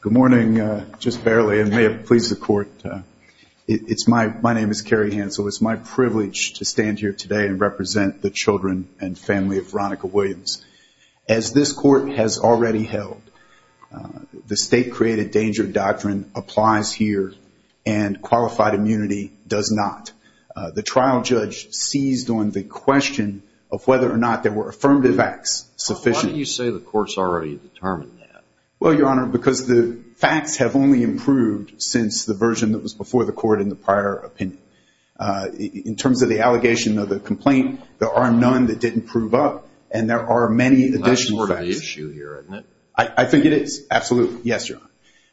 Good morning. Just barely. It may have pleased the court. My name is Kerry Hansel. It's my privilege to stand here today and represent the children and family of Veronica Williams. As this court has already held, the state-created danger doctrine applies here and qualified immunity does not. The trial judge seized on the question of whether or not there were confirmative facts sufficient. Why do you say the court's already determined that? Well, Your Honor, because the facts have only improved since the version that was before the court in the prior opinion. In terms of the allegation of the complaint, there are none that didn't prove up and there are many additional facts. Not sort of the issue here, isn't it? I think it is. Absolutely. Yes, Your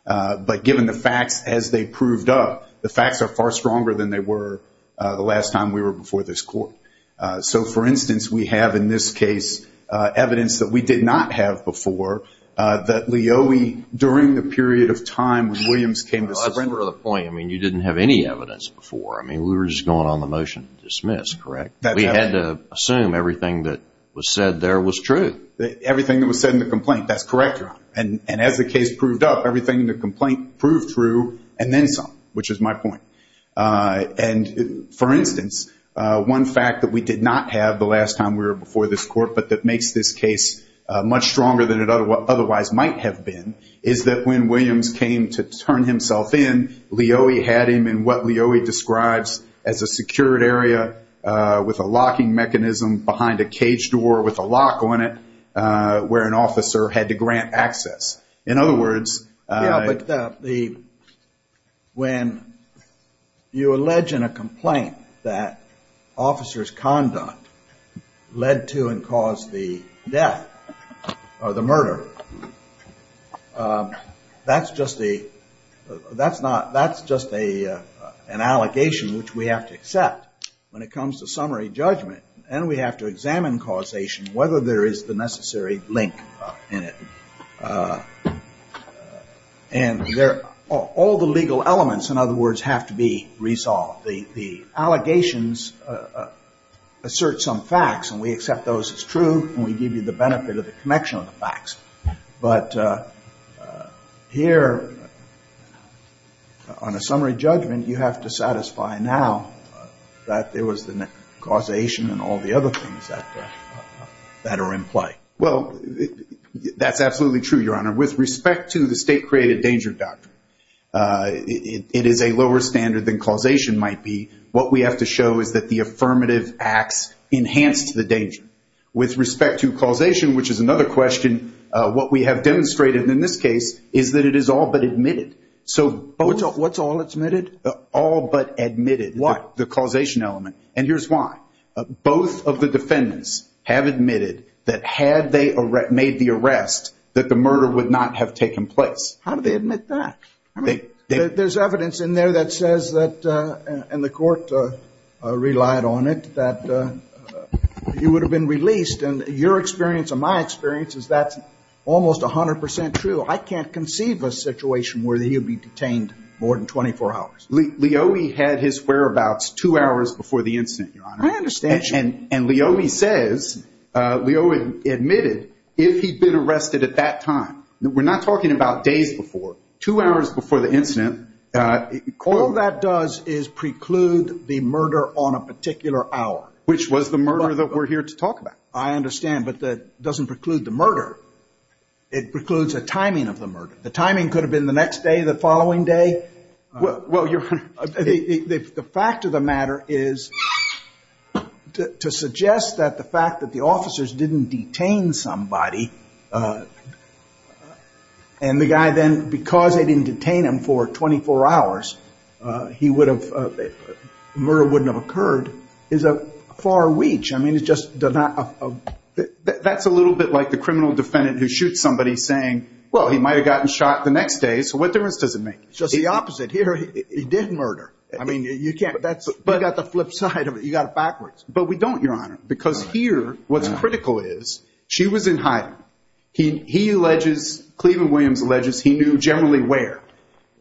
Honor. But given the facts as they proved up, the facts are far stronger than they were the last time we were before this court. So, for instance, we have in this case evidence that we did not have before, that Lioi, during the period of time when Williams came to surrender... Well, that's part of the point. I mean, you didn't have any evidence before. I mean, we were just going on the motion to dismiss, correct? We had to assume everything that was said there was true. Everything that was said in the complaint, that's correct, Your Honor. And as the case proved up, everything in the complaint proved true and then some, which is my point. And for instance, one fact that we did not have the last time we were before this court but that makes this case much stronger than it otherwise might have been is that when Williams came to turn himself in, Lioi had him in what Lioi describes as a secured area with a locking mechanism behind a caged door with a lock on it where an officer had to grant access. In other words... Yeah, but when you allege in a complaint that officer's conduct led to and caused the death or the murder, that's just an allegation which we have to accept when it comes to summary judgment. And all the legal elements, in other words, have to be resolved. The allegations assert some facts and we accept those as true and we give you the benefit of the connection of the facts. But here on a summary judgment, you have to satisfy now that there was the causation and all the other things that are in play. Well, that's absolutely true, Your Honor. With respect to the state-created danger doctrine, it is a lower standard than causation might be. What we have to show is that the affirmative acts enhanced the danger. With respect to causation, which is another question, what we have demonstrated in this case is that it is all but admitted. So what's all admitted? All but admitted, the causation element. And here's why. Both of the defendants have admitted that had they made the arrest, that the murder would not have taken place. How do they admit that? There's evidence in there that says that, and the court relied on it, that he would have been released. And your experience and my experience is that's almost 100% true. I can't conceive a situation where he would be detained more than 24 hours. Leobi had his whereabouts two hours before the incident, Your Honor. I understand. And Leobi says, Leobi admitted, if he'd been arrested at that time, we're not talking about days before, two hours before the incident. All that does is preclude the murder on a particular hour. Which was the murder that we're here to talk about. I understand, but that doesn't preclude the murder. It precludes the timing of the murder. The timing could have been the next day, the following day. Well, Your Honor, the fact of the matter is to suggest that the fact that the officers didn't detain somebody, and the guy then, because they didn't detain him for 24 hours, he would have, the murder wouldn't have occurred, is a far reach. I mean, it just does not... That's a little bit like the criminal defendant who shoots somebody saying, well, he might have gotten shot the next day. So what difference does it make? It's just the opposite. Here, he did murder. I mean, you can't, that's, you got the flip side of it. You got it backwards. But we don't, Your Honor. Because here, what's critical is, she was in hiding. He alleges, Cleveland Williams alleges, he knew generally where.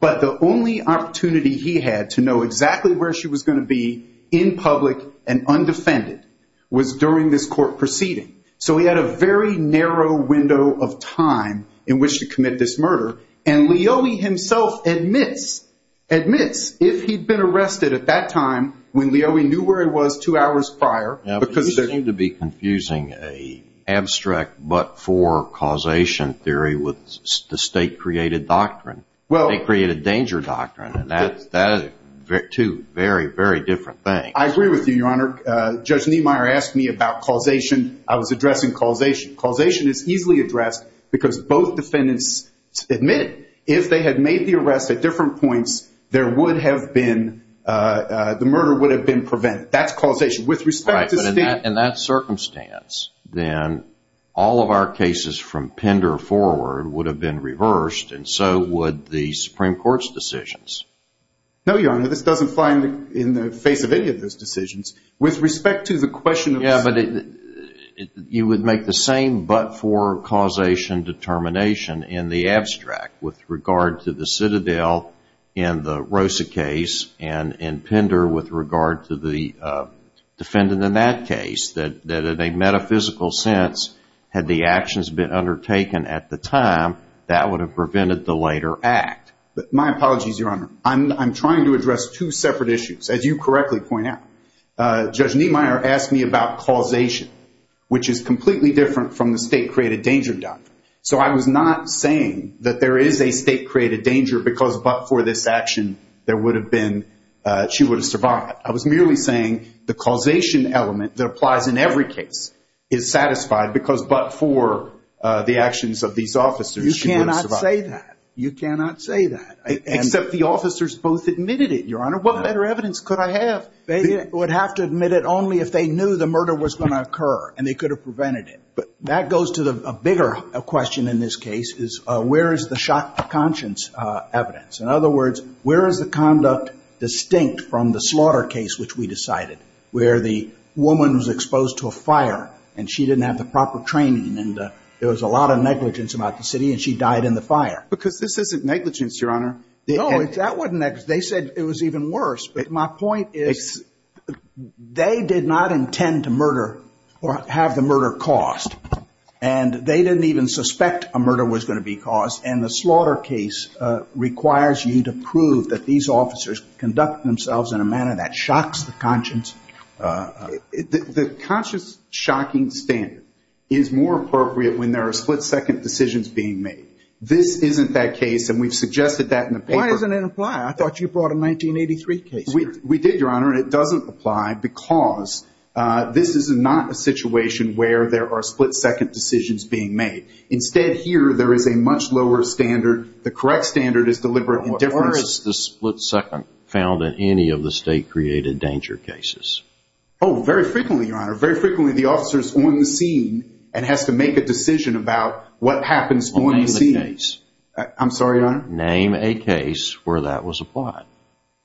But the only opportunity he had to know exactly where she was going to be in public and undefended was during this court proceeding. So he had a very narrow window of time in which to commit this murder. And Leobi himself admits, admits, if he'd been arrested at that time, when Leobi knew where it was two hours prior, because... Yeah, but you seem to be confusing an abstract but-for causation theory with the state-created doctrine. Well... The state-created danger doctrine, and that's two very, very different things. I agree with you, Your Honor. Judge Niemeyer asked me about causation. I was addressing causation. Causation is easily addressed because both defendants admit, if they had made the arrest at different points, there would have been, the murder would have been prevented. That's causation. With respect to state... Right, but in that circumstance, then, all of our cases from Pender forward would have been reversed, and so would the Supreme Court's decisions. No, Your Honor. This doesn't fly in the face of any of those decisions. With respect to the question of... Yeah, but you would make the same but-for causation determination in the abstract with regard to the Citadel in the Rosa case, and in Pender with regard to the defendant in that case. That, in a metaphysical sense, had the actions been undertaken at the time, that would have prevented the later act. My apologies, Your Honor. I'm trying to address two separate issues, as you correctly point out. Judge Niemeyer asked me about causation, which is completely different from the state-created danger doctrine. So, I was not saying that there is a state-created danger because but-for this action, there would have been, she would have survived. I was merely saying the causation element that applies in every case is satisfied because but-for the actions of these officers, she would have survived. You cannot say that. You cannot say that, except the officers both admitted it, Your Honor. What better evidence could I have? They would have to admit it only if they knew the murder was going to occur, and they could have prevented it. But that goes to a bigger question in this case, is where is the shot to conscience evidence? In other words, where is the conduct distinct from the slaughter case, which we decided, where the woman was exposed to a fire, and she didn't have the proper training, and there was a lot of negligence about the city, and she died in the fire? Because this isn't negligence, Your Honor. No, that wasn't negligence. They said it was even worse. But my point is they did not intend to murder or have the murder caused. And they didn't even suspect a murder was going to be caused. And the slaughter case requires you to prove that these officers conduct themselves in a manner that shocks the conscience. The conscience-shocking standard is more appropriate when there are split-second decisions being made. This isn't that case, and we've suggested that in the paper. Why doesn't it apply? I thought you brought a 1983 case here. We did, Your Honor, and it doesn't apply because this is not a situation where there are split-second decisions being made. Instead, here, there is a much lower standard. The correct standard is deliberate indifference. Where is the split-second found in any of the state-created danger cases? Oh, very frequently, Your Honor. Very frequently, the officer is on the scene and has to make a decision about what happens on the scene. Well, name the case. I'm sorry, Your Honor? Name a case where that was applied.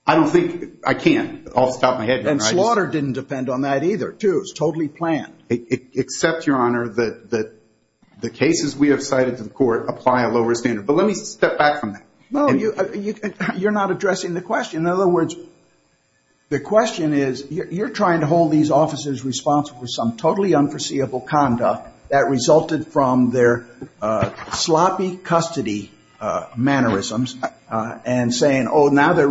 I don't think, I can't. I'll stop my head here. And slaughter didn't depend on that either, too. It was totally planned. Except, Your Honor, that the cases we have cited to the court apply a lower standard. But let me step back from that. You're not addressing the question. In other words, the question is, you're trying to hold these officers responsible for some totally unforeseeable conduct that resulted from their being held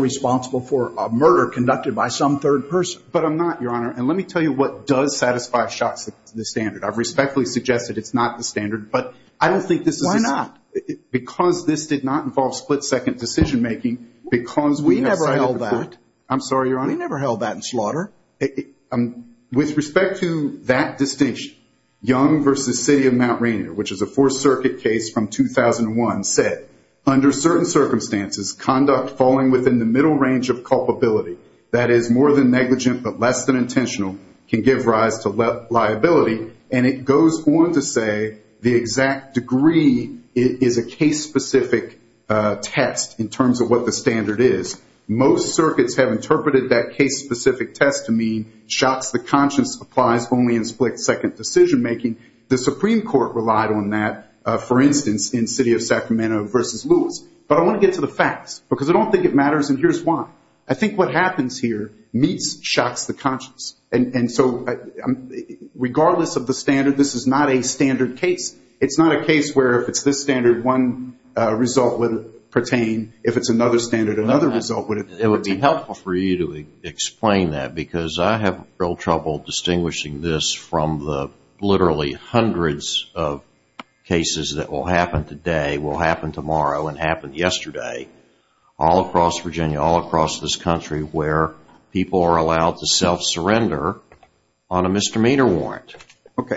responsible for a murder conducted by some third person. But I'm not, Your Honor. And let me tell you what does satisfy shots at the standard. I've respectfully suggested it's not the standard, but I don't think this is... Why not? Because this did not involve split-second decision-making, because we have cited... We never held that. I'm sorry, Your Honor? We never held that in slaughter. With respect to that distinction, Young v. City of Mount Rainier, which is a Fourth Circuit case from 2001, said, under certain circumstances, conduct falling within the middle range of culpability, that is more than negligent but less than intentional, can give rise to liability. And it goes on to say the exact degree is a case-specific test in terms of what the standard is. Most circuits have interpreted that case-specific test to mean shots the conscience applies only in split-second decision-making. The Supreme Court relied on that, for instance, in City of Sacramento v. Lewis. But I want to get to the facts, because I don't think it matters, and here's why. I think what happens here meets shots the conscience. And so, regardless of the standard, this is not a standard case. It's not a case where if it's this standard, one result would pertain. If it's another standard, another result would pertain. It would be helpful for you to explain that, because I have real trouble distinguishing this from the literally hundreds of cases that will happen today, will happen tomorrow, and happened yesterday, all across Virginia, all across this country, where people are allowed to self-surrender on a misdemeanor warrant.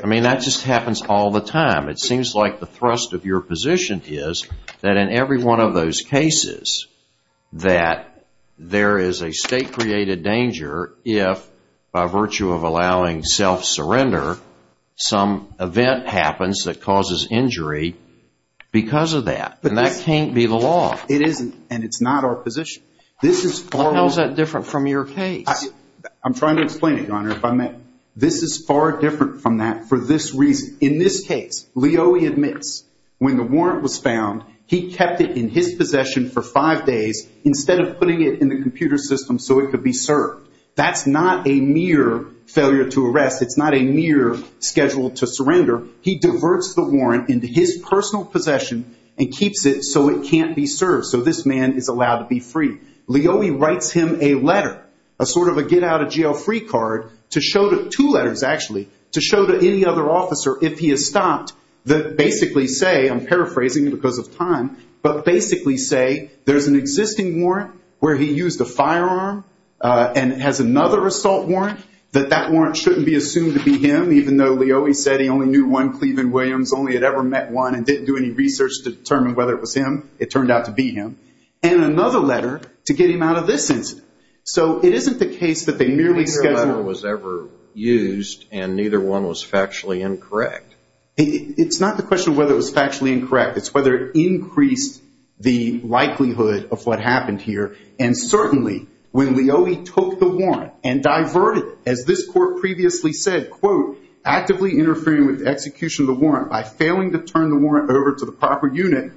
I mean, that just happens all the time. It seems like the thrust of your position is that in every one of those cases that there is self-surrender, some event happens that causes injury because of that, and that can't be the law. It isn't, and it's not our position. This is far more... How is that different from your case? I'm trying to explain it, Your Honor, if I may. This is far different from that for this reason. In this case, Leo admits when the warrant was found, he kept it in his possession for five days instead of putting it in the computer system so it could be served. That's not a mere failure to arrest. It's not a mere schedule to surrender. He diverts the warrant into his personal possession and keeps it so it can't be served, so this man is allowed to be free. Leo writes him a letter, a sort of a get-out-of-jail-free card, two letters actually, to show to any other officer if he is stopped, that basically say, I'm paraphrasing because of time, but it has another assault warrant, that that warrant shouldn't be assumed to be him, even though Leo said he only knew one Cleveland Williams, only had ever met one, and didn't do any research to determine whether it was him. It turned out to be him. And another letter to get him out of this incident. So it isn't the case that they merely scheduled... Neither letter was ever used, and neither one was factually incorrect. It's not the question of whether it was factually incorrect. Leo took the warrant and diverted, as this court previously said, quote, actively interfering with the execution of the warrant by failing to turn the warrant over to the proper unit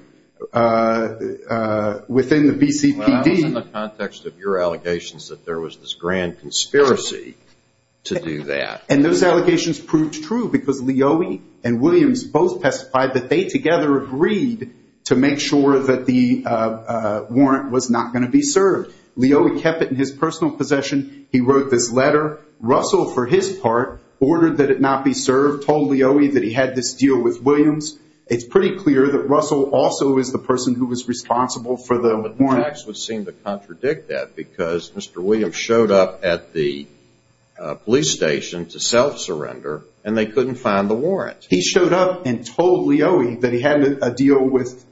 within the BCPD. Well, that was in the context of your allegations that there was this grand conspiracy to do that. And those allegations proved true, because Leo and Williams both testified that they together agreed to make sure that the warrant was not going to be served. Leo kept it in his personal possession. He wrote this letter. Russell, for his part, ordered that it not be served, told Leo that he had this deal with Williams. It's pretty clear that Russell also is the person who was responsible for the warrant. But the facts would seem to contradict that, because Mr. Williams showed up at the police station to self-surrender, and they couldn't find the warrant. He showed up and told Leo that he had a deal with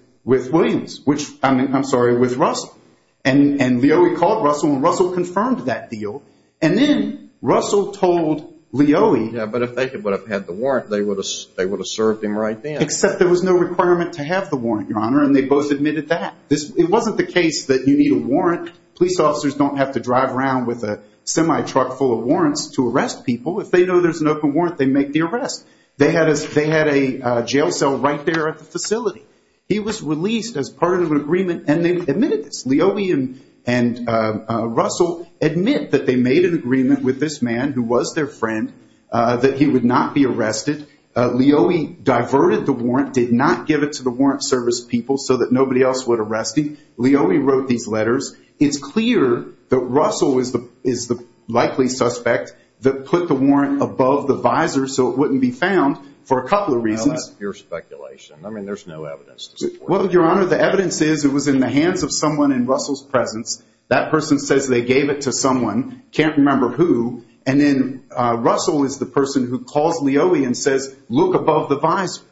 Williams, which... I'm sorry, with Russell. And Leo called Russell, and Russell confirmed that deal. And then Russell told Leo... Yeah, but if they would have had the warrant, they would have served him right then. Except there was no requirement to have the warrant, Your Honor, and they both admitted that. It wasn't the case that you need a warrant. Police officers don't have to drive around with a semi-truck full of warrants to arrest people. If they know there's an open warrant, they make the arrest. They had a jail cell right there at the facility. He was released as part of an agreement, and they admitted this. Leo and Russell admit that they made an agreement with this man, who was their friend, that he would not be arrested. Leo diverted the warrant, did not give it to the warrant service people so that nobody else would arrest him. Leo wrote these letters. It's clear that Russell is the likely suspect that put the warrant above the visor so it wouldn't be found for a couple of reasons. Well, that's pure speculation. I mean, there's no evidence to support that. Well, Your Honor, the evidence is it was in the hands of someone in Russell's presence. That person says they gave it to someone, can't remember who, and then Russell is the person who calls Leo and says, look above the visor.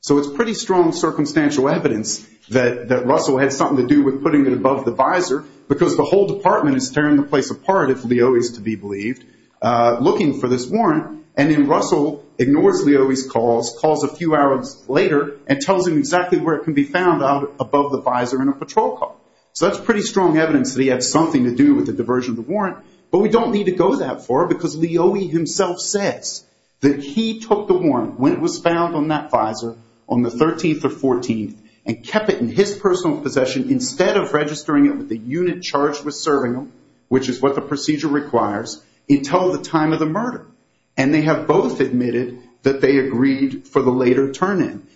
So it's pretty strong circumstantial evidence that Russell had something to do with putting it above the visor because the whole department is tearing the place apart, if Leo is to be believed, looking for this warrant, and then Russell ignores Leo's calls, calls a few hours later and tells him exactly where it can be found out above the visor in a patrol car. So that's pretty strong evidence that he had something to do with the diversion of the warrant, but we don't need to go that far because Leo himself says that he took the warrant when it was found on that visor on the 13th or 14th and kept it in his personal possession instead of registering it with the unit charged with serving him, which is what the procedure requires, until the time of the murder. And they have both admitted that they agreed for the later turn in.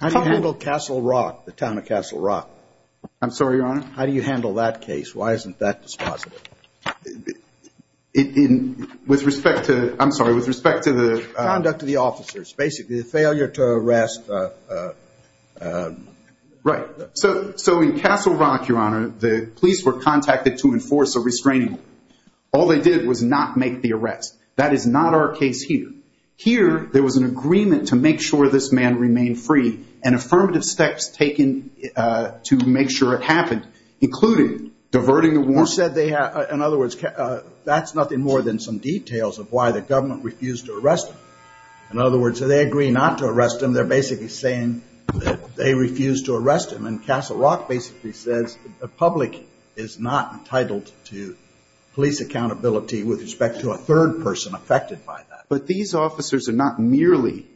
How do you handle Castle Rock, the town of Castle Rock? I'm sorry, Your Honor. How do you handle that case? Why isn't that dispositive? With respect to, I'm sorry, with respect to the conduct of the officers, basically the failure to arrest. Right, so in Castle Rock, Your Honor, the police were contacted to enforce a restraining order. All they did was not make the arrest. That is not our case here. Here, there was an agreement to make sure this man remained free and affirmative steps taken to make sure it happened, including diverting the warrant. You said they had, in other words, that's nothing more than some details of why the government refused to arrest him. In other words, do they agree not to arrest him? They're basically saying that they refused to arrest him. And Castle Rock basically says the public is not entitled to police accountability with respect to a third person affected by that. But these officers are not merely,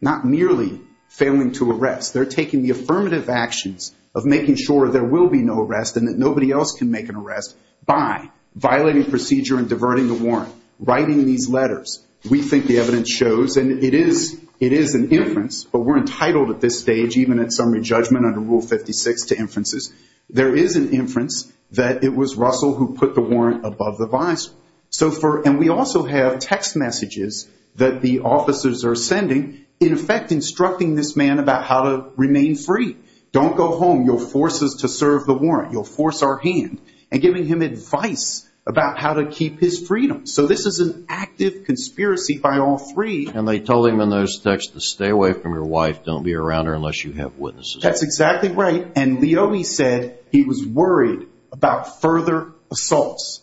not merely failing to arrest. They're taking the affirmative actions of making sure there will be no arrest and that nobody else can make an arrest by violating procedure and diverting the warrant, writing these letters. We think the evidence shows, and it is, it is an inference, but we're entitled at this stage, even at summary judgment under Rule 56 to inferences, there is an inference that it was Russell who put the warrant above the vice. So for, and we also have text messages that the officers are sending, in effect, instructing this man about how to remain free. Don't go home. You'll force us to serve the warrant. You'll force our hand and giving him advice about how to keep his freedom. So this is an active conspiracy by all three. And they told him in those texts to stay away from your wife. Don't be around her unless you have witnesses. That's exactly right. And Leo, he said he was worried about further assaults.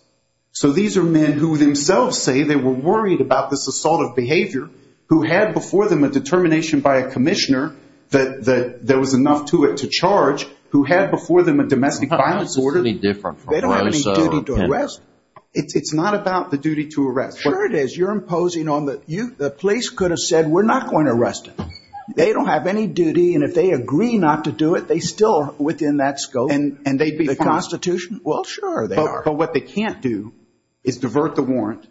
So these are men who themselves say they were worried about this assault of behavior, who had before them a determination by a commissioner that there was enough to it to charge, who had before them a domestic violence order. It's completely different from Rosso. They don't have any duty to arrest. It's not about the duty to arrest. Sure it is. You're imposing on the, you, the police could have said, we're not going to arrest him. They don't have any duty. And if they agree not to do it, they still are within that scope. And they'd be fine. The Constitution? Well, sure. They are. But what they can't do is divert the warrant,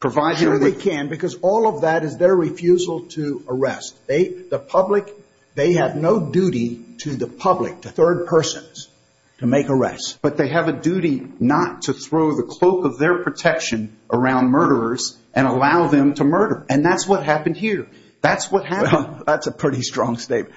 provide him with- Sure they can, because all of that is their refusal to arrest. The public, they have no duty to the public, to third persons, to make arrests. But they have a duty not to throw the cloak of their protection around murderers and allow them to murder. And that's what happened here. That's what happened. Well, that's a pretty strong statement.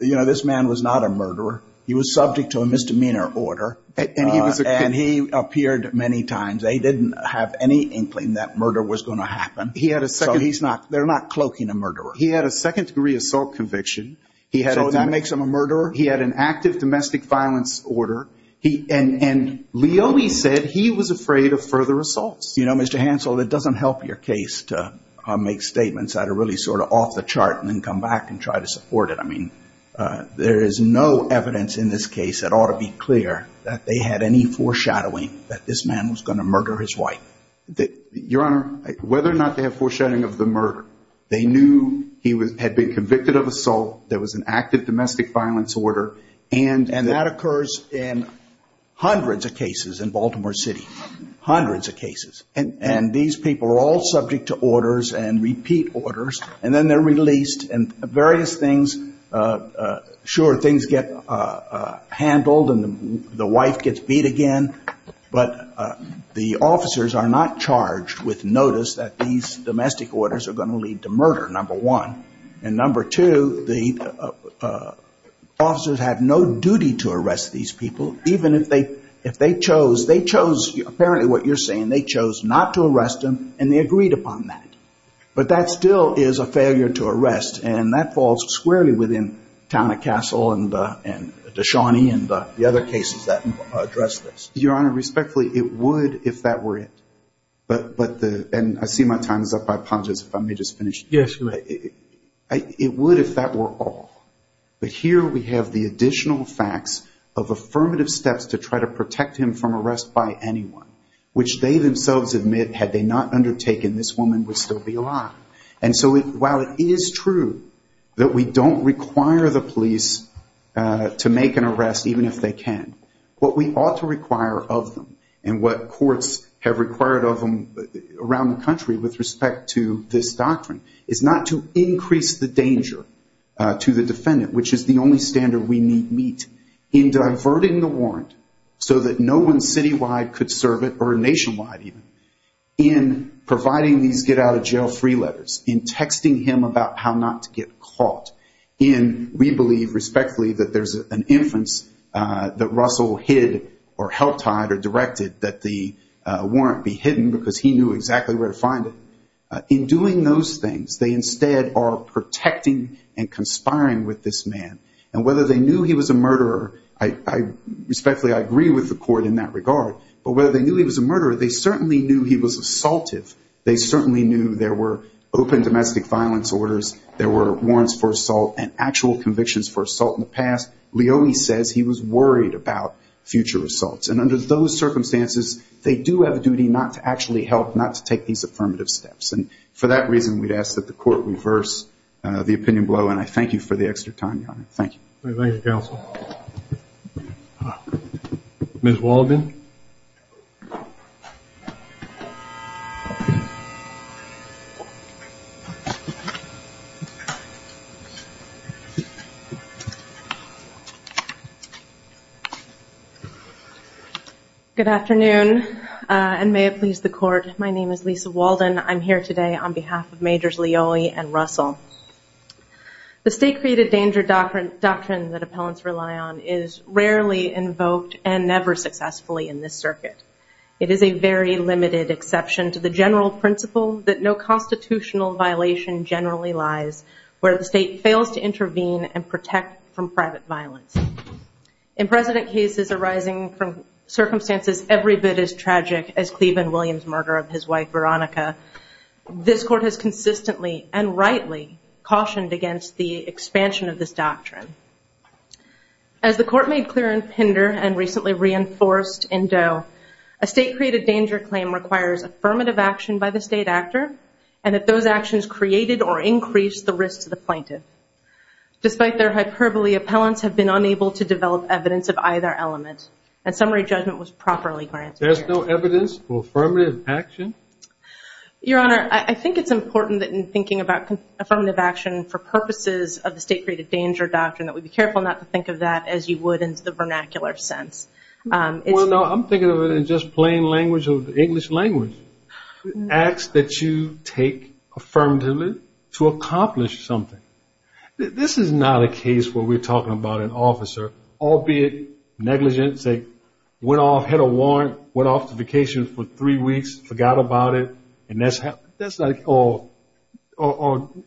You know, this man was not a murderer. He was subject to a misdemeanor order. And he was a- And he appeared many times. They didn't have any inkling that murder was going to happen. He had a second- So he's not, they're not cloaking a murderer. He had a second degree assault conviction. He had a- So that makes him a murderer? He had an active domestic violence order. And Leone said he was afraid of further assaults. You know, Mr. Hansel, it doesn't help your case to make statements that are really sort of off the chart and then come back and try to support it. I mean, there is no evidence in this case that ought to be clear that they had any foreshadowing that this man was going to murder his wife. Your Honor, whether or not they have foreshadowing of the murder, they knew he had been convicted of assault, there was an active domestic violence order, and- And that occurs in hundreds of cases in Baltimore City. Hundreds of cases. And these people are all subject to orders and repeat orders. And then they're released and various things, sure, things get handled and the wife gets beat again, but the officers are not charged with notice that these domestic orders are going to lead to murder, number one. And number two, the officers have no duty to arrest these people, even if they chose, they chose, apparently what you're saying, they chose not to arrest them and they agreed upon that. But that still is a failure to arrest. And that falls squarely within Tana Castle and Dashani and the other cases that address this. Your Honor, respectfully, it would if that were it. But the, and I see my time is up, I apologize if I may just finish. It would if that were all, but here we have the additional facts of affirmative steps to try to protect him from arrest by anyone, which they themselves admit had they not undertaken this woman would still be alive. And so while it is true that we don't require the police to make an arrest, even if they can, what we ought to require of them and what courts have required of them around the country with respect to this doctrine is not to increase the danger to the defendant, which is the only standard we meet in diverting the warrant so that no one citywide could In letting these get out of jail free letters, in texting him about how not to get caught, in we believe respectfully that there's an inference that Russell hid or help tied or directed that the warrant be hidden because he knew exactly where to find it. In doing those things, they instead are protecting and conspiring with this man. And whether they knew he was a murderer, I respectfully, I agree with the court in that regard, but whether they knew he was a murderer, they certainly knew he was assaultive. They certainly knew there were open domestic violence orders. There were warrants for assault and actual convictions for assault in the past. Leone says he was worried about future assaults. And under those circumstances, they do have a duty not to actually help, not to take these affirmative steps. And for that reason, we'd ask that the court reverse the opinion below. And I thank you for the extra time, Your Honor. Thank you. All right. Thank you, counsel. Ms. Walden? Good afternoon, and may it please the court. My name is Lisa Walden. I'm here today on behalf of Majors Leone and Russell. The state-created danger doctrine that appellants rely on is rarely invoked and never successfully in this circuit. It is a very limited exception to the general principle that no constitutional violation generally lies where the state fails to intervene and protect from private violence. In precedent cases arising from circumstances every bit as tragic as Cleveland Williams' murder of his wife, Veronica, this court has consistently and rightly cautioned against the expansion of this doctrine. As the court made clear in Pinder and recently reinforced in Doe, a state-created danger claim requires affirmative action by the state actor, and if those actions created or increased the risk to the plaintiff. Despite their hyperbole, appellants have been unable to develop evidence of either element, and summary judgment was properly granted. There's no evidence for affirmative action? Your Honor, I think it's important that in thinking about affirmative action for purposes of the state-created danger doctrine that we be careful not to think of that as you would in the vernacular sense. Well, no, I'm thinking of it in just plain language, English language. Acts that you take affirmatively to accomplish something. This is not a case where we're talking about an officer, albeit negligent, say, went off, had a warrant, went off to vacation for three weeks, forgot about it, and that's like, oh,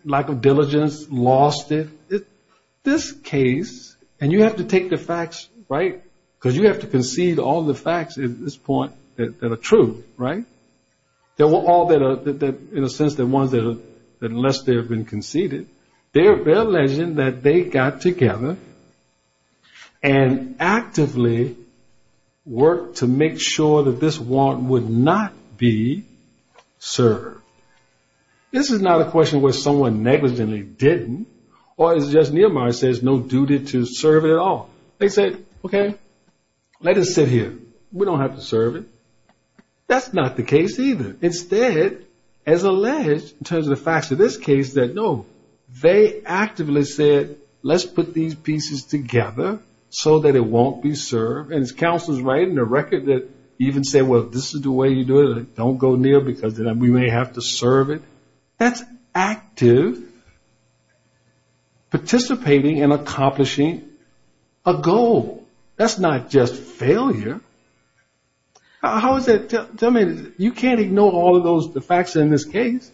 lack of diligence, lost it. This case, and you have to take the facts, right, because you have to concede all the facts at this point that are true, right? There were all that are, in a sense, the ones that unless they have been conceded, they're can actively work to make sure that this warrant would not be served. This is not a question where someone negligently didn't, or as Justice Nehemiah says, no duty to serve it at all. They said, OK, let it sit here. We don't have to serve it. That's not the case either. Instead, as alleged, in terms of the facts of this case, that no, they actively said, let's put these pieces together so that it won't be served. And his counsel is writing a record that even said, well, if this is the way you do it, don't go near because then we may have to serve it. That's active participating in accomplishing a goal. That's not just failure. How is that, tell me, you can't ignore all of those, the facts in this case.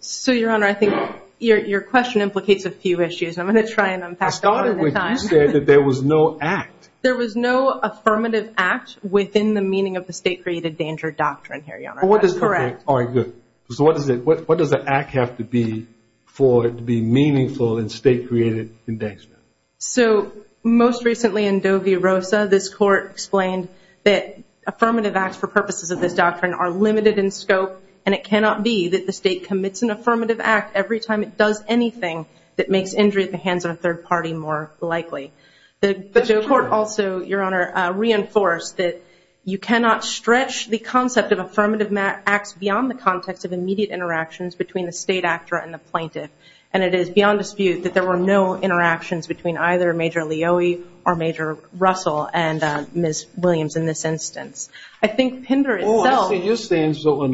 So, Your Honor, I think your question implicates a few issues. I'm going to try and unpack them all at the same time. I started when you said that there was no act. There was no affirmative act within the meaning of the state-created danger doctrine here, Your Honor. Correct. All right, good. So what does the act have to be for it to be meaningful in state-created endangerment? So most recently in Dovi Rosa, this court explained that affirmative acts for purposes of this doctrine are limited in scope, and it cannot be that the state commits an affirmative act every time it does anything that makes injury at the hands of a third party more likely. But the court also, Your Honor, reinforced that you cannot stretch the concept of affirmative acts beyond the context of immediate interactions between the state actor and the plaintiff. And it is beyond dispute that there were no interactions between either Major Leoie or Major Russell and Ms. Williams in this instance. I think PINDER itself- Your Honor,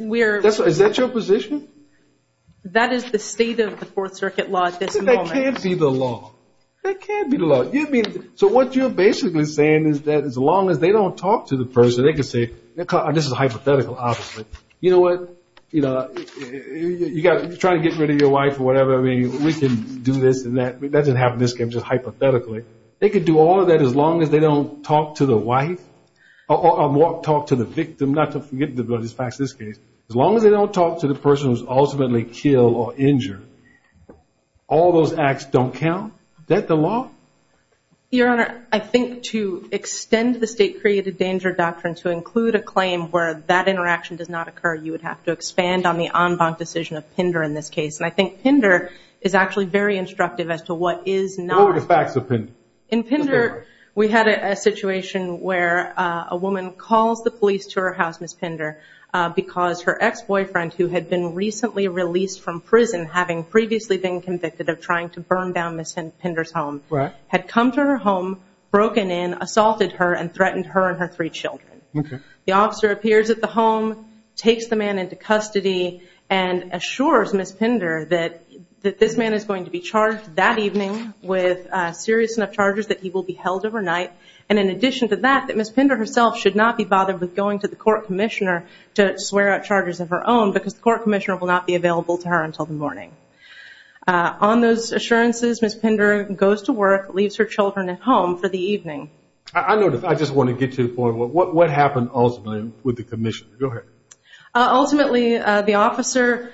we are- Is that your position? That is the state of the Fourth Circuit law at this moment. That can't be the law. That can't be the law. So what you're basically saying is that as long as they don't talk to the person, they can say, this is hypothetical, obviously. You know what? You got trying to get rid of your wife or whatever. We can do this and that. That doesn't happen. This came just hypothetically. They could do all of that as long as they don't talk to the wife or talk to the victim. Not to forget the bloodiest facts in this case. As long as they don't talk to the person who was ultimately killed or injured, all those acts don't count. Is that the law? Your Honor, I think to extend the state created danger doctrine to include a claim where that interaction does not occur, you would have to expand on the en banc decision of PINDER in this case. What were the facts of PINDER? In PINDER, we had a situation where a woman calls the police to her house, Ms. PINDER, because her ex-boyfriend, who had been recently released from prison, having previously been convicted of trying to burn down Ms. PINDER's home, had come to her home, broken in, assaulted her, and threatened her and her three children. The officer appears at the home, takes the man into custody, and assures Ms. PINDER that this man is going to be charged that evening with serious enough charges that he will be held overnight, and in addition to that, that Ms. PINDER herself should not be bothered with going to the court commissioner to swear out charges of her own, because the court commissioner will not be available to her until the morning. On those assurances, Ms. PINDER goes to work, leaves her children at home for the evening. I just want to get to the point. What happened ultimately with the commissioner? Go ahead. Ultimately, the officer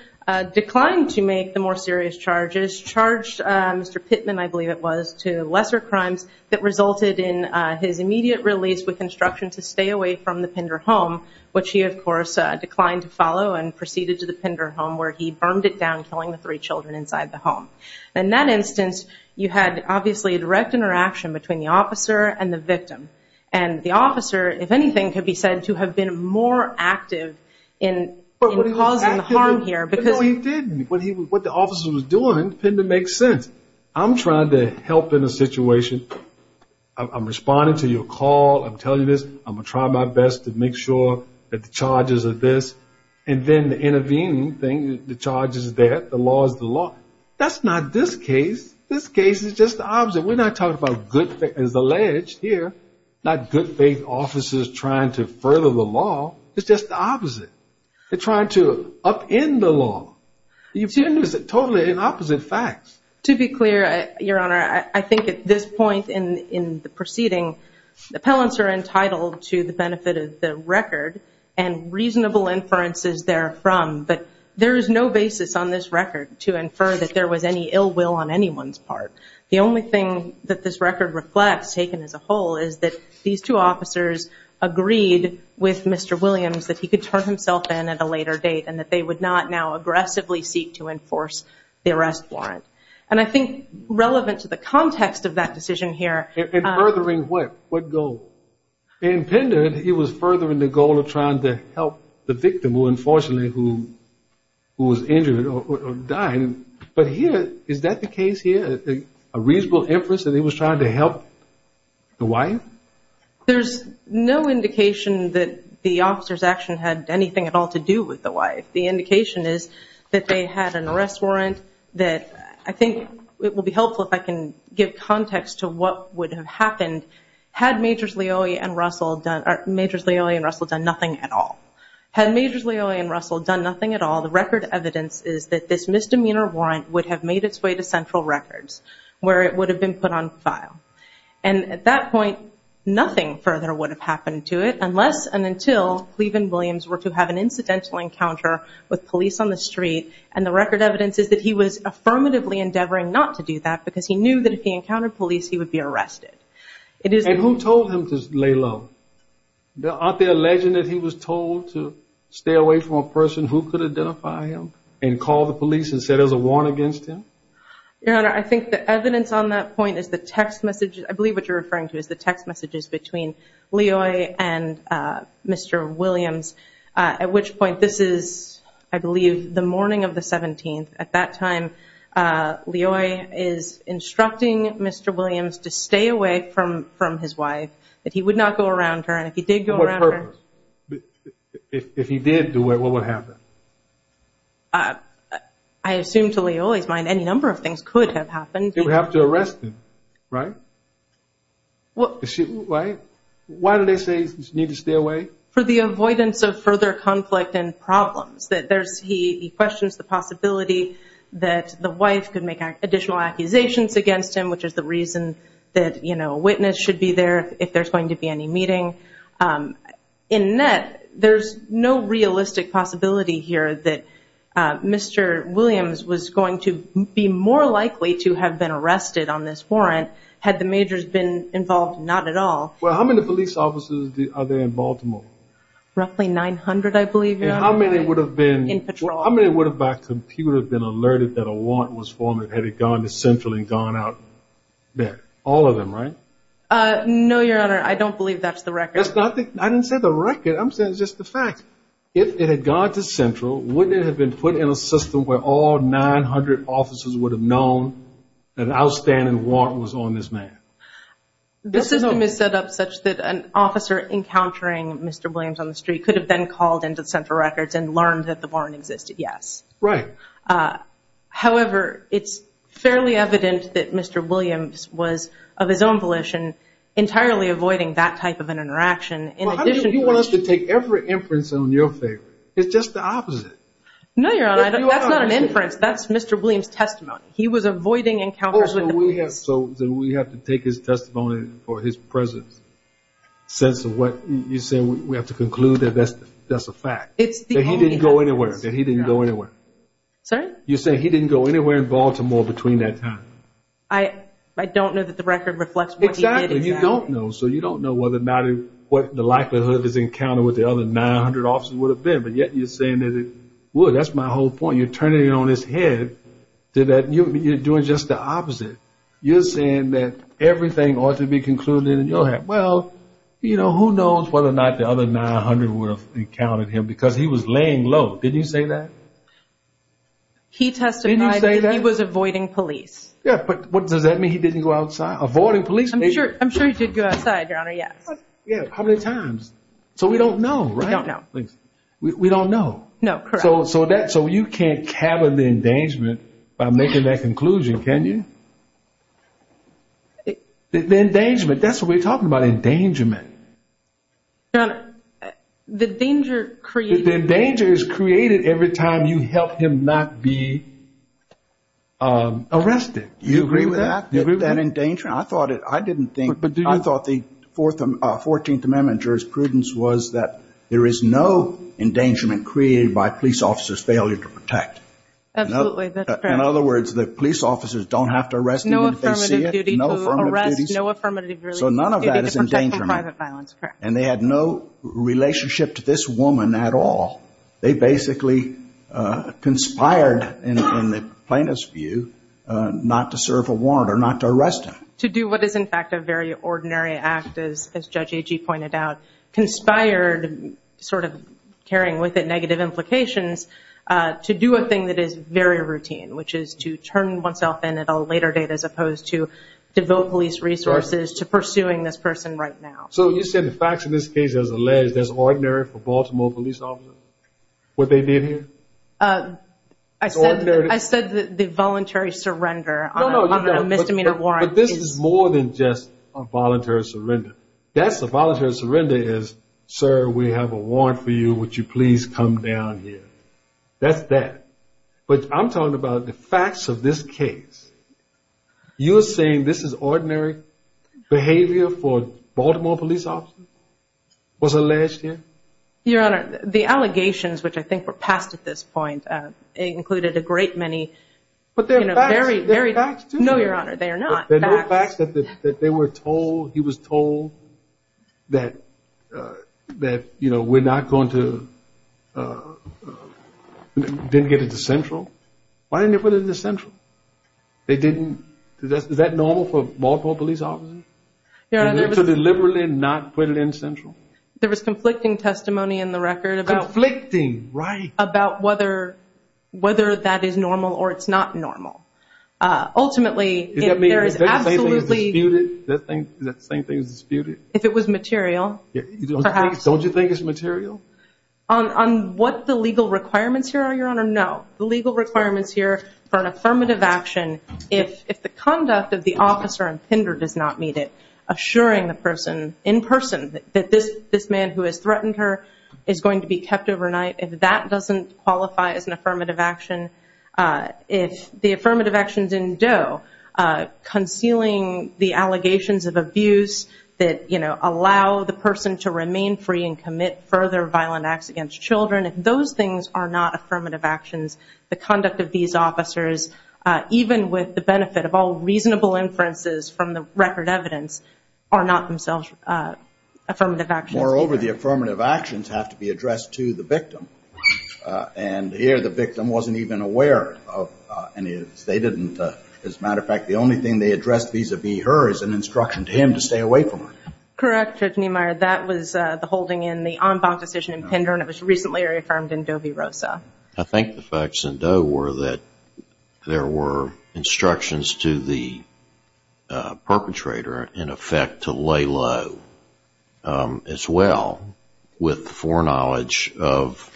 declined to make the more serious charges, charged Mr. Pittman, I believe it was, to lesser crimes that resulted in his immediate release with instruction to stay away from the PINDER home, which he, of course, declined to follow and proceeded to the PINDER home, where he burned it down, killing the three children inside the home. In that instance, you had, obviously, a direct interaction between the officer and the victim, and the officer, if anything, could be said to have been more active in causing harm here, because... No, he didn't. What the officer was doing, PINDER makes sense. I'm trying to help in a situation. I'm responding to your call. I'm telling you this. I'm going to try my best to make sure that the charges are this, and then the intervening thing, the charges is that, the law is the law. That's not this case. This case is just the opposite. We're not talking about good faith, as alleged here, not good faith officers trying to further the law. It's just the opposite. They're trying to upend the law. You've seen this totally in opposite facts. To be clear, Your Honor, I think at this point in the proceeding, the appellants are entitled to the benefit of the record and reasonable inferences therefrom, but there is no basis on this record to infer that there was any ill will on anyone's part. The only thing that this record reflects, taken as a whole, is that these two officers agreed with Mr. Williams that he could turn himself in at a later date, and that they would not now aggressively seek to enforce the arrest warrant. And I think relevant to the context of that decision here- In furthering what? What goal? In PINDER, it was furthering the goal of trying to help the victim, who unfortunately, who was injured or dying. But here, is that the case here? A reasonable inference that he was trying to help the wife? There's no indication that the officer's action had anything at all to do with the wife. The indication is that they had an arrest warrant that, I think it will be helpful if I can give context to what would have happened had Majors Leoy and Russell done nothing at all. Had Majors Leoy and Russell done nothing at all, the record evidence is that this misdemeanor warrant would have made its way to Central Records, where it would have been put on file. And at that point, nothing further would have happened to it, unless and until Cleveland Williams were to have an incidental encounter with police on the street. And the record evidence is that he was affirmatively endeavoring not to do that, because he knew that if he encountered police, he would be arrested. It is- And who told him to lay low? Aren't they alleging that he was told to stay away from a person who could identify him and call the police and say there's a warrant against him? Your Honor, I think the evidence on that point is the text messages- I believe what you're referring to is the text messages between Leoy and Mr. Williams, at which point this is, I believe, the morning of the 17th. At that time, Leoy is instructing Mr. Williams to stay away from his wife, that he would not go around her. And if he did go around her- What purpose? If he did do it, what would happen? I assume to Leoy's mind, any number of things could have happened. He would have to arrest him, right? What- Right? Why do they say he needs to stay away? For the avoidance of further conflict and problems, that there's- he questions the possibility that the wife could make additional accusations against him, which is the reason that a witness should be there if there's going to be any meeting. In net, there's no realistic possibility here that Mr. Williams was going to be more likely to have been arrested on this warrant, had the majors been involved. Not at all. Well, how many police officers are there in Baltimore? Roughly 900, I believe, Your Honor. And how many would have been- In patrol. Well, how many would have, by computer, been alerted that a warrant was formed, had it gone to Central and gone out there? All of them, right? No, Your Honor, I don't believe that's the record. That's not the- I didn't say the record, I'm saying just the fact. If it had gone to Central, wouldn't it have been put in a system where all 900 officers would have known that an outstanding warrant was on this man? The system is set up such that an officer encountering Mr. Williams on the street could have then called into Central Records and learned that the warrant existed, yes. Right. However, it's fairly evident that Mr. Williams was, of his own volition, entirely avoiding that type of an interaction in addition to- Well, how do you want us to take every inference on your favor? It's just the opposite. No, Your Honor, that's not an inference. That's Mr. Williams' testimony. He was avoiding encounters with- So we have to take his testimony for his presence, since what you're saying, we have to conclude that that's a fact. It's the only evidence. That he didn't go anywhere. That he didn't go anywhere. Sorry? You're saying he didn't go anywhere in Baltimore between that time. I don't know that the record reflects what he did. Exactly. You don't know. So you don't know whether or not what the likelihood is encounter with the other 900 officers would have been. But yet you're saying that it would. That's my whole point. You're turning it on its head that you're doing just the opposite. You're saying that everything ought to be concluded in your head. Well, who knows whether or not the other 900 would have encountered him because he was laying low. Did you say that? He testified that he was avoiding police. Yeah, but does that mean he didn't go outside? Avoiding police? I'm sure he did go outside, Your Honor, yes. Yeah, how many times? So we don't know, right? We don't know. We don't know. No, correct. So you can't cabin the endangerment by making that conclusion, can you? The endangerment, that's what we're talking about, endangerment. Your Honor, the danger created... The danger is created every time you help him not be arrested. You agree with that? You agree with that? That endangerment, I thought it, I didn't think, I thought the 14th Amendment jurisprudence was that there is no endangerment created by police officers' failure to protect. Absolutely, that's correct. In other words, the police officers don't have to arrest anyone if they see it, no affirmative duties. Arrest, no affirmative release. So none of that is endangerment. They need to protect from private violence, correct. And they had no relationship to this woman at all. They basically conspired, in the plaintiff's view, not to serve a warrant or not to arrest him. To do what is, in fact, a very ordinary act, as Judge Agee pointed out, conspired, sort of carrying with it negative implications, to do a thing that is very routine, which So you said the facts of this case, as alleged, as ordinary for Baltimore police officers, what they did here? I said the voluntary surrender on a misdemeanor warrant is... No, no, but this is more than just a voluntary surrender. That's the voluntary surrender is, sir, we have a warrant for you, would you please come down here? That's that. But I'm talking about the facts of this case. You're saying this is ordinary behavior for Baltimore police officers, was alleged here? Your Honor, the allegations, which I think were passed at this point, included a great many... But they're facts. They're facts, too. No, Your Honor, they are not. They're facts. The fact that they were told, he was told, that we're not going to, didn't get it to Central, why didn't they put it in Central? They didn't... Is that normal for Baltimore police officers, to deliberately not put it in Central? There was conflicting testimony in the record about whether that is normal, or it's not normal. Ultimately, there is absolutely... Is that the same thing as disputed? If it was material, perhaps. Don't you think it's material? On what the legal requirements here are, Your Honor, no. The legal requirements here for an affirmative action, if the conduct of the officer and Pender does not meet it, assuring the person in person that this man who has threatened her is going to be kept overnight, if that doesn't qualify as an affirmative action, if the affirmative actions in Doe, concealing the allegations of abuse that allow the person to remain free and commit further violent acts against children, if those things are not affirmative actions, the conduct of these officers, even with the benefit of all reasonable inferences from the record evidence, are not themselves affirmative actions. Moreover, the affirmative actions have to be addressed to the victim. Here, the victim wasn't even aware of any of this. They didn't... As a matter of fact, the only thing they addressed vis-a-vis her is an instruction to him to stay away from her. Correct, Judge Niemeyer. That was the holding in the en banc decision in Pender, and it was recently reaffirmed in Doe v. Rosa. I think the facts in Doe were that there were instructions to the perpetrator, in effect, to lay low, as well, with foreknowledge of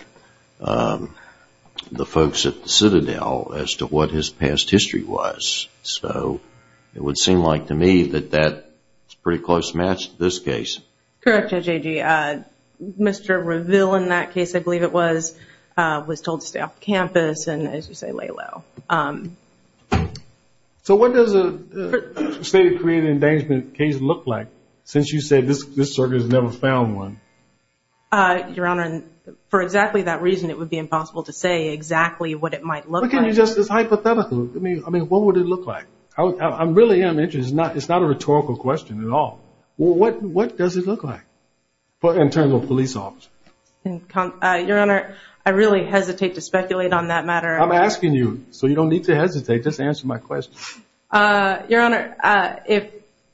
the folks at Citadel as to what his past history was. It would seem like, to me, that that's a pretty close match to this case. Correct, Judge Agee. Mr. Reville, in that case, I believe it was, was told to stay off campus and, as you say, lay low. So, what does a stated creative endangerment case look like, since you said this circuit has never found one? Your Honor, for exactly that reason, it would be impossible to say exactly what it might look like. But can you just... It's hypothetical. I mean, what would it look like? I really am interested. It's not a rhetorical question at all. What does it look like, in terms of a police officer? Your Honor, I really hesitate to speculate on that matter. I'm asking you. So, you don't need to hesitate. Just answer my question. Your Honor,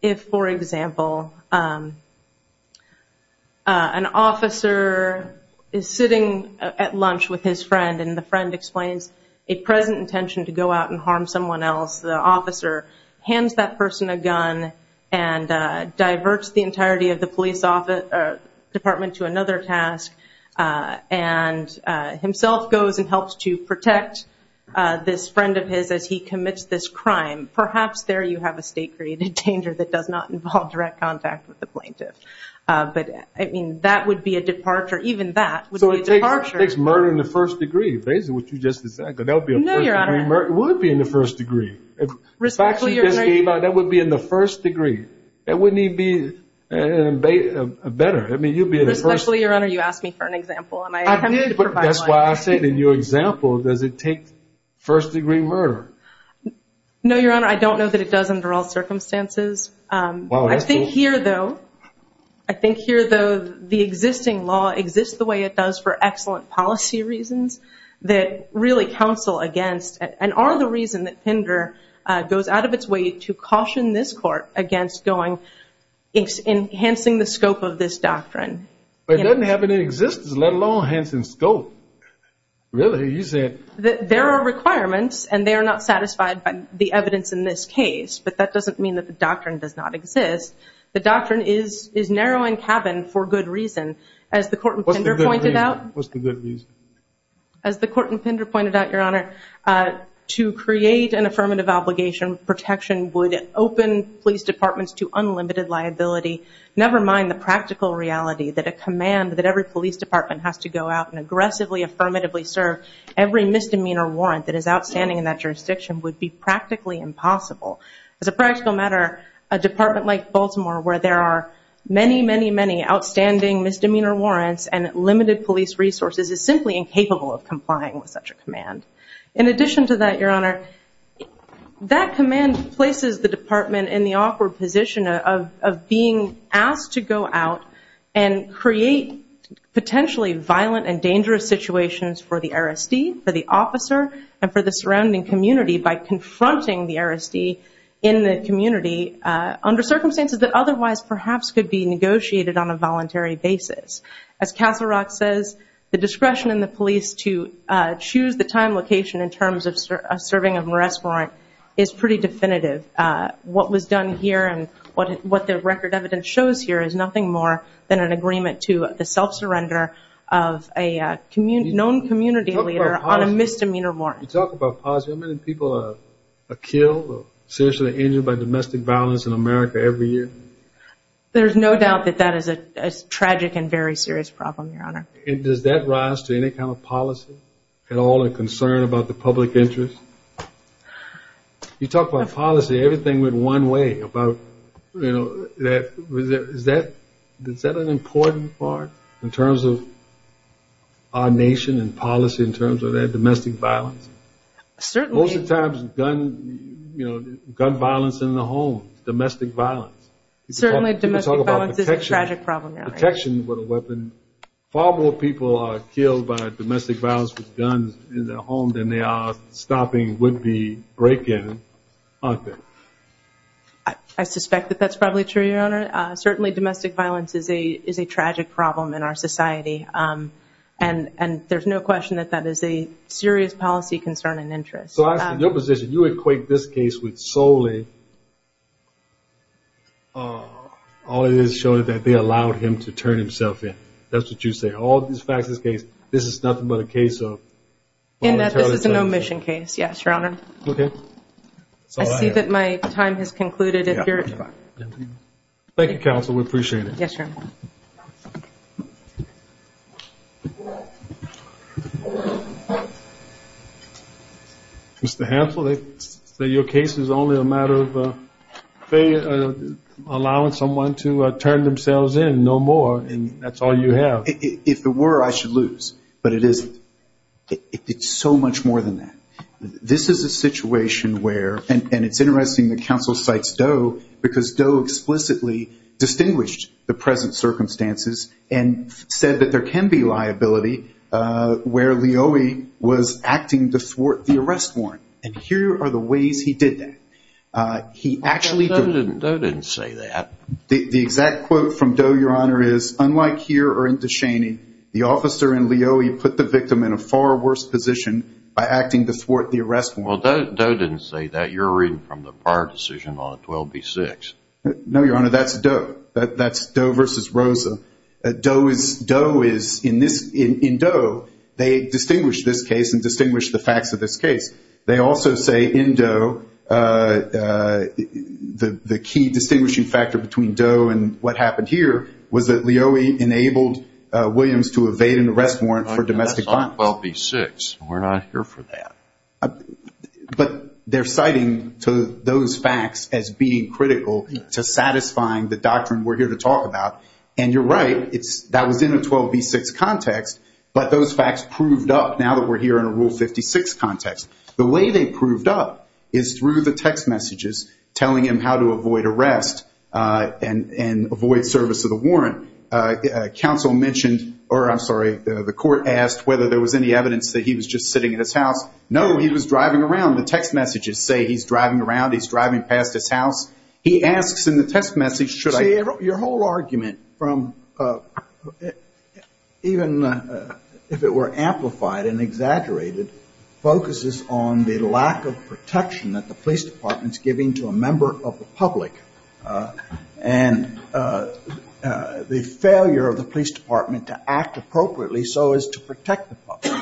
if, for example, an officer is sitting at lunch with his friend and the friend explains a present intention to go out and harm someone else, the officer hands that person a gun and diverts the entirety of the police department to another task, and himself goes and helps to protect this friend of his as he commits this crime, perhaps there you have a state-created danger that does not involve direct contact with the plaintiff. But, I mean, that would be a departure. Even that would be a departure. So, it takes murder in the first degree, basically, what you just said. No, Your Honor. Because that would be a first degree murder. It would be in the first degree. Respectfully, Your Honor... In fact, she just came out. That would be in the first degree. That wouldn't even be better. I mean, you'd be in the first degree. Respectfully, Your Honor, you asked me for an example, and I attempted to provide one. That's why I said in your example, does it take first degree murder? No, Your Honor, I don't know that it does under all circumstances. I think here, though, I think here, though, the existing law exists the way it does for excellent policy reasons that really counsel against, and are the reason that Pender goes out of its way to caution this court against going, enhancing the scope of this doctrine. But it doesn't have any existence, let alone enhancing scope. Really? You said... There are requirements, and they are not satisfied by the evidence in this case, but that doesn't mean that the doctrine does not exist. The doctrine is narrowing cabin for good reason. As the court in Pender pointed out... What's the good reason? As the court in Pender pointed out, Your Honor, to create an affirmative obligation, protection would open police departments to unlimited liability, never mind the practical reality that a command that every police department has to go out and aggressively, affirmatively serve every misdemeanor warrant that is outstanding in that jurisdiction would be practically impossible. As a practical matter, a department like Baltimore, where there are many, many, many outstanding misdemeanor warrants and limited police resources, is simply incapable of complying with such a command. In addition to that, Your Honor, that command places the department in the awkward position of being asked to go out and create potentially violent and dangerous situations for the RSD, for the officer, and for the surrounding community by confronting the RSD in the community under circumstances that otherwise perhaps could be negotiated on a voluntary basis. As Castle Rock says, the discretion in the police to choose the time location in terms of serving a morass warrant is pretty definitive. What was done here and what the record evidence shows here is nothing more than an agreement to the self-surrender of a known community leader on a misdemeanor warrant. You talk about positive, how many people are killed or seriously injured by domestic violence in America every year? There's no doubt that that is a tragic and very serious problem, Your Honor. Does that rise to any kind of policy at all and concern about the public interest? You talk about policy, everything went one way about, you know, is that an important part in terms of our nation and policy in terms of that domestic violence? Certainly. Most of the times, gun violence in the home, domestic violence. Certainly domestic violence is a tragic problem, Your Honor. Detection with a weapon, far more people are killed by domestic violence with guns in their home than they are stopping would-be break-in, aren't they? I suspect that that's probably true, Your Honor. Certainly domestic violence is a tragic problem in our society and there's no question that that is a serious policy concern and interest. So I ask for your position. You equate this case with solely all it is showing that they allowed him to turn himself in. That's what you say. All these facts in this case, this is nothing but a case of... And that this is an omission case, yes, Your Honor. Okay. That's all I have. I see that my time has concluded, if you're... Thank you, Counsel. We appreciate it. Yes, Your Honor. Mr. Hansel, they say your case is only a matter of allowing someone to turn themselves in. No more. And that's all you have. If it were, I should lose. But it isn't. It's so much more than that. This is a situation where, and it's interesting that Counsel cites Doe because Doe explicitly distinguished the present circumstances and said that there can be liability where Leoie was acting to thwart the arrest warrant. And here are the ways he did that. He actually... Doe didn't say that. The exact quote from Doe, Your Honor, is, unlike here or in Descheny, the officer in Leoie put the victim in a far worse position by acting to thwart the arrest warrant. Well, Doe didn't say that. You're reading from the prior decision on 12B6. No, Your Honor, that's Doe. That's Doe versus Rosa. Doe is, in Doe, they distinguish this case and distinguish the facts of this case. They also say in Doe, the key distinguishing factor between Doe and what happened here was that Leoie enabled Williams to evade an arrest warrant for domestic violence. That's on 12B6. We're not here for that. But they're citing those facts as being critical to satisfying the doctrine we're here to talk about. And you're right. That was in a 12B6 context. But those facts proved up now that we're here in a Rule 56 context. The way they proved up is through the text messages telling him how to avoid arrest and avoid service of the warrant. Counsel mentioned... Or, I'm sorry, the court asked whether there was any evidence that he was just sitting at his house. No. He was driving around. The text messages say he's driving around, he's driving past his house. He asks in the text message, should I... Your whole argument, even if it were amplified and exaggerated, focuses on the lack of protection that the police department's giving to a member of the public and the failure of the police department to act appropriately so as to protect the public.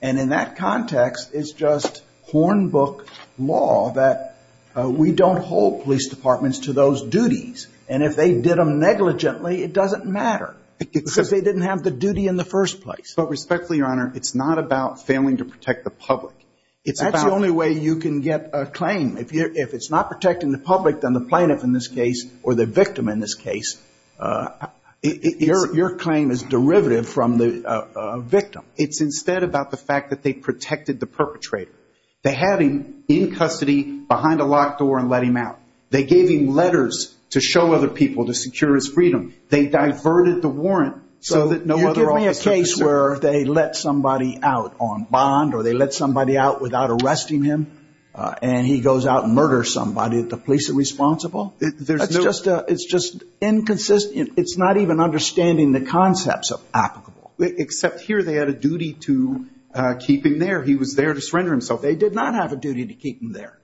And in that context, it's just hornbook law that we don't hold police departments to those duties. And if they did them negligently, it doesn't matter because they didn't have the duty in the first place. But respectfully, Your Honor, it's not about failing to protect the public. It's about... That's the only way you can get a claim. If it's not protecting the public, then the plaintiff in this case or the victim in this case, your claim is derivative from the victim. It's instead about the fact that they protected the perpetrator. They had him in custody behind a locked door and let him out. They gave him letters to show other people to secure his freedom. They diverted the warrant so that no other officer could... You're giving me a case where they let somebody out on bond or they let somebody out without arresting him and he goes out and murders somebody that the police are responsible? It's just inconsistent. It's not even understanding the concepts of applicable. Except here, they had a duty to keep him there. He was there to surrender himself. They did not have a duty to keep him there.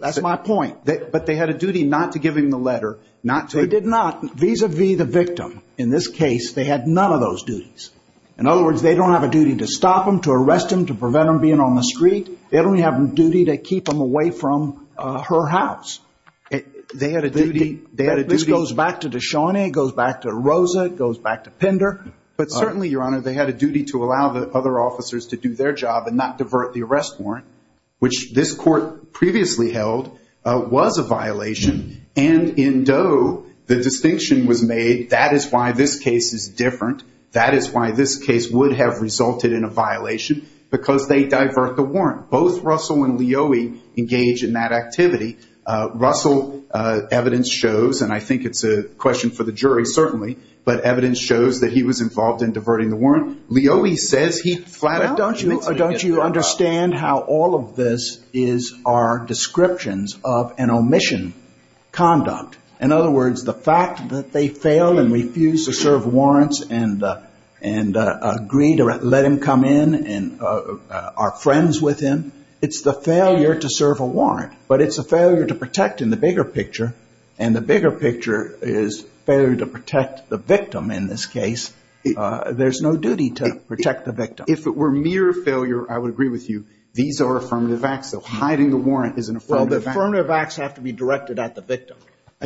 That's my point. But they had a duty not to give him the letter, not to... They did not. Vis-a-vis the victim, in this case, they had none of those duties. In other words, they don't have a duty to stop him, to arrest him, to prevent him being on the street. They only have a duty to keep him away from her house. They had a duty... This goes back to Deshaunay, it goes back to Rosa, it goes back to Pender. But certainly, Your Honor, they had a duty to allow the other officers to do their job and not divert the arrest warrant, which this court previously held was a violation. And in Doe, the distinction was made, that is why this case is different. That is why this case would have resulted in a violation, because they divert the warrant. Both Russell and Leoie engage in that activity. Russell, evidence shows, and I think it's a question for the jury, certainly, but evidence shows that he was involved in diverting the warrant. Leoie says he flat-out admitted to it. But don't you understand how all of this is our descriptions of an omission conduct? In other words, the fact that they fail and refuse to serve warrants and agree to let him come in and are friends with him, it's the failure to serve a warrant. But it's a failure to protect in the bigger picture, and the bigger picture is failure to protect the victim in this case. There's no duty to protect the victim. If it were mere failure, I would agree with you. These are affirmative acts, so hiding the warrant is an affirmative act. Well, the affirmative acts have to be directed at the victim.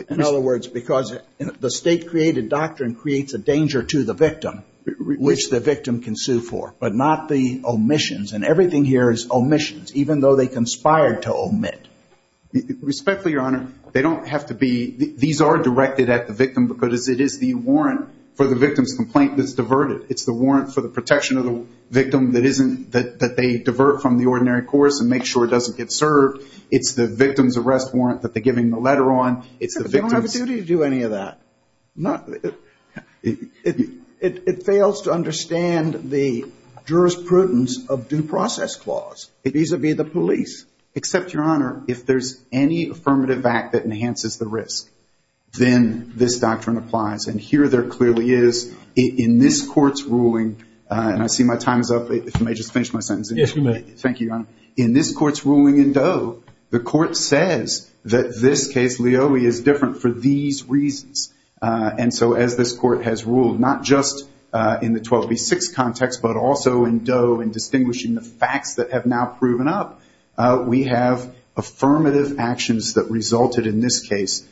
In other words, because the state-created doctrine creates a danger to the victim, which the victim can sue for, but not the omissions. And everything here is omissions, even though they conspired to omit. Respectfully, Your Honor, they don't have to be. These are directed at the victim, because it is the warrant for the victim's complaint that's diverted. It's the warrant for the protection of the victim that they divert from the ordinary course and make sure it doesn't get served. It's the victim's arrest warrant that they're giving the letter on. It's the victim's- They don't have a duty to do any of that. It fails to understand the jurisprudence of due process clause, vis-a-vis the police. Except, Your Honor, if there's any affirmative act that enhances the risk, then this doctrine applies. And here there clearly is, in this court's ruling, and I see my time is up. If you may just finish my sentence. Yes, you may. Thank you, Your Honor. In this court's ruling in Doe, the court says that this case, Leoie, is different for these reasons. And so as this court has ruled, not just in the 12B6 context, but also in Doe in distinguishing the facts that have now proven up, we have affirmative actions that resulted in this case,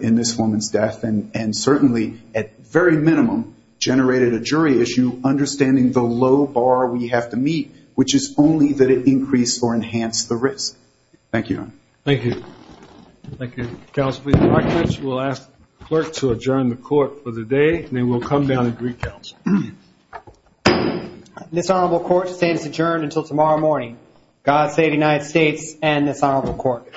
in this woman's death. And certainly, at very minimum, generated a jury issue understanding the low bar we have to meet, which is only that it increased or enhanced the risk. Thank you, Your Honor. Thank you. Thank you. Counsel, please be recognized. We'll ask the clerk to adjourn the court for the day, then we'll come down and greet counsel. This Honorable Court stands adjourned until tomorrow morning. God save the United States and this Honorable Court.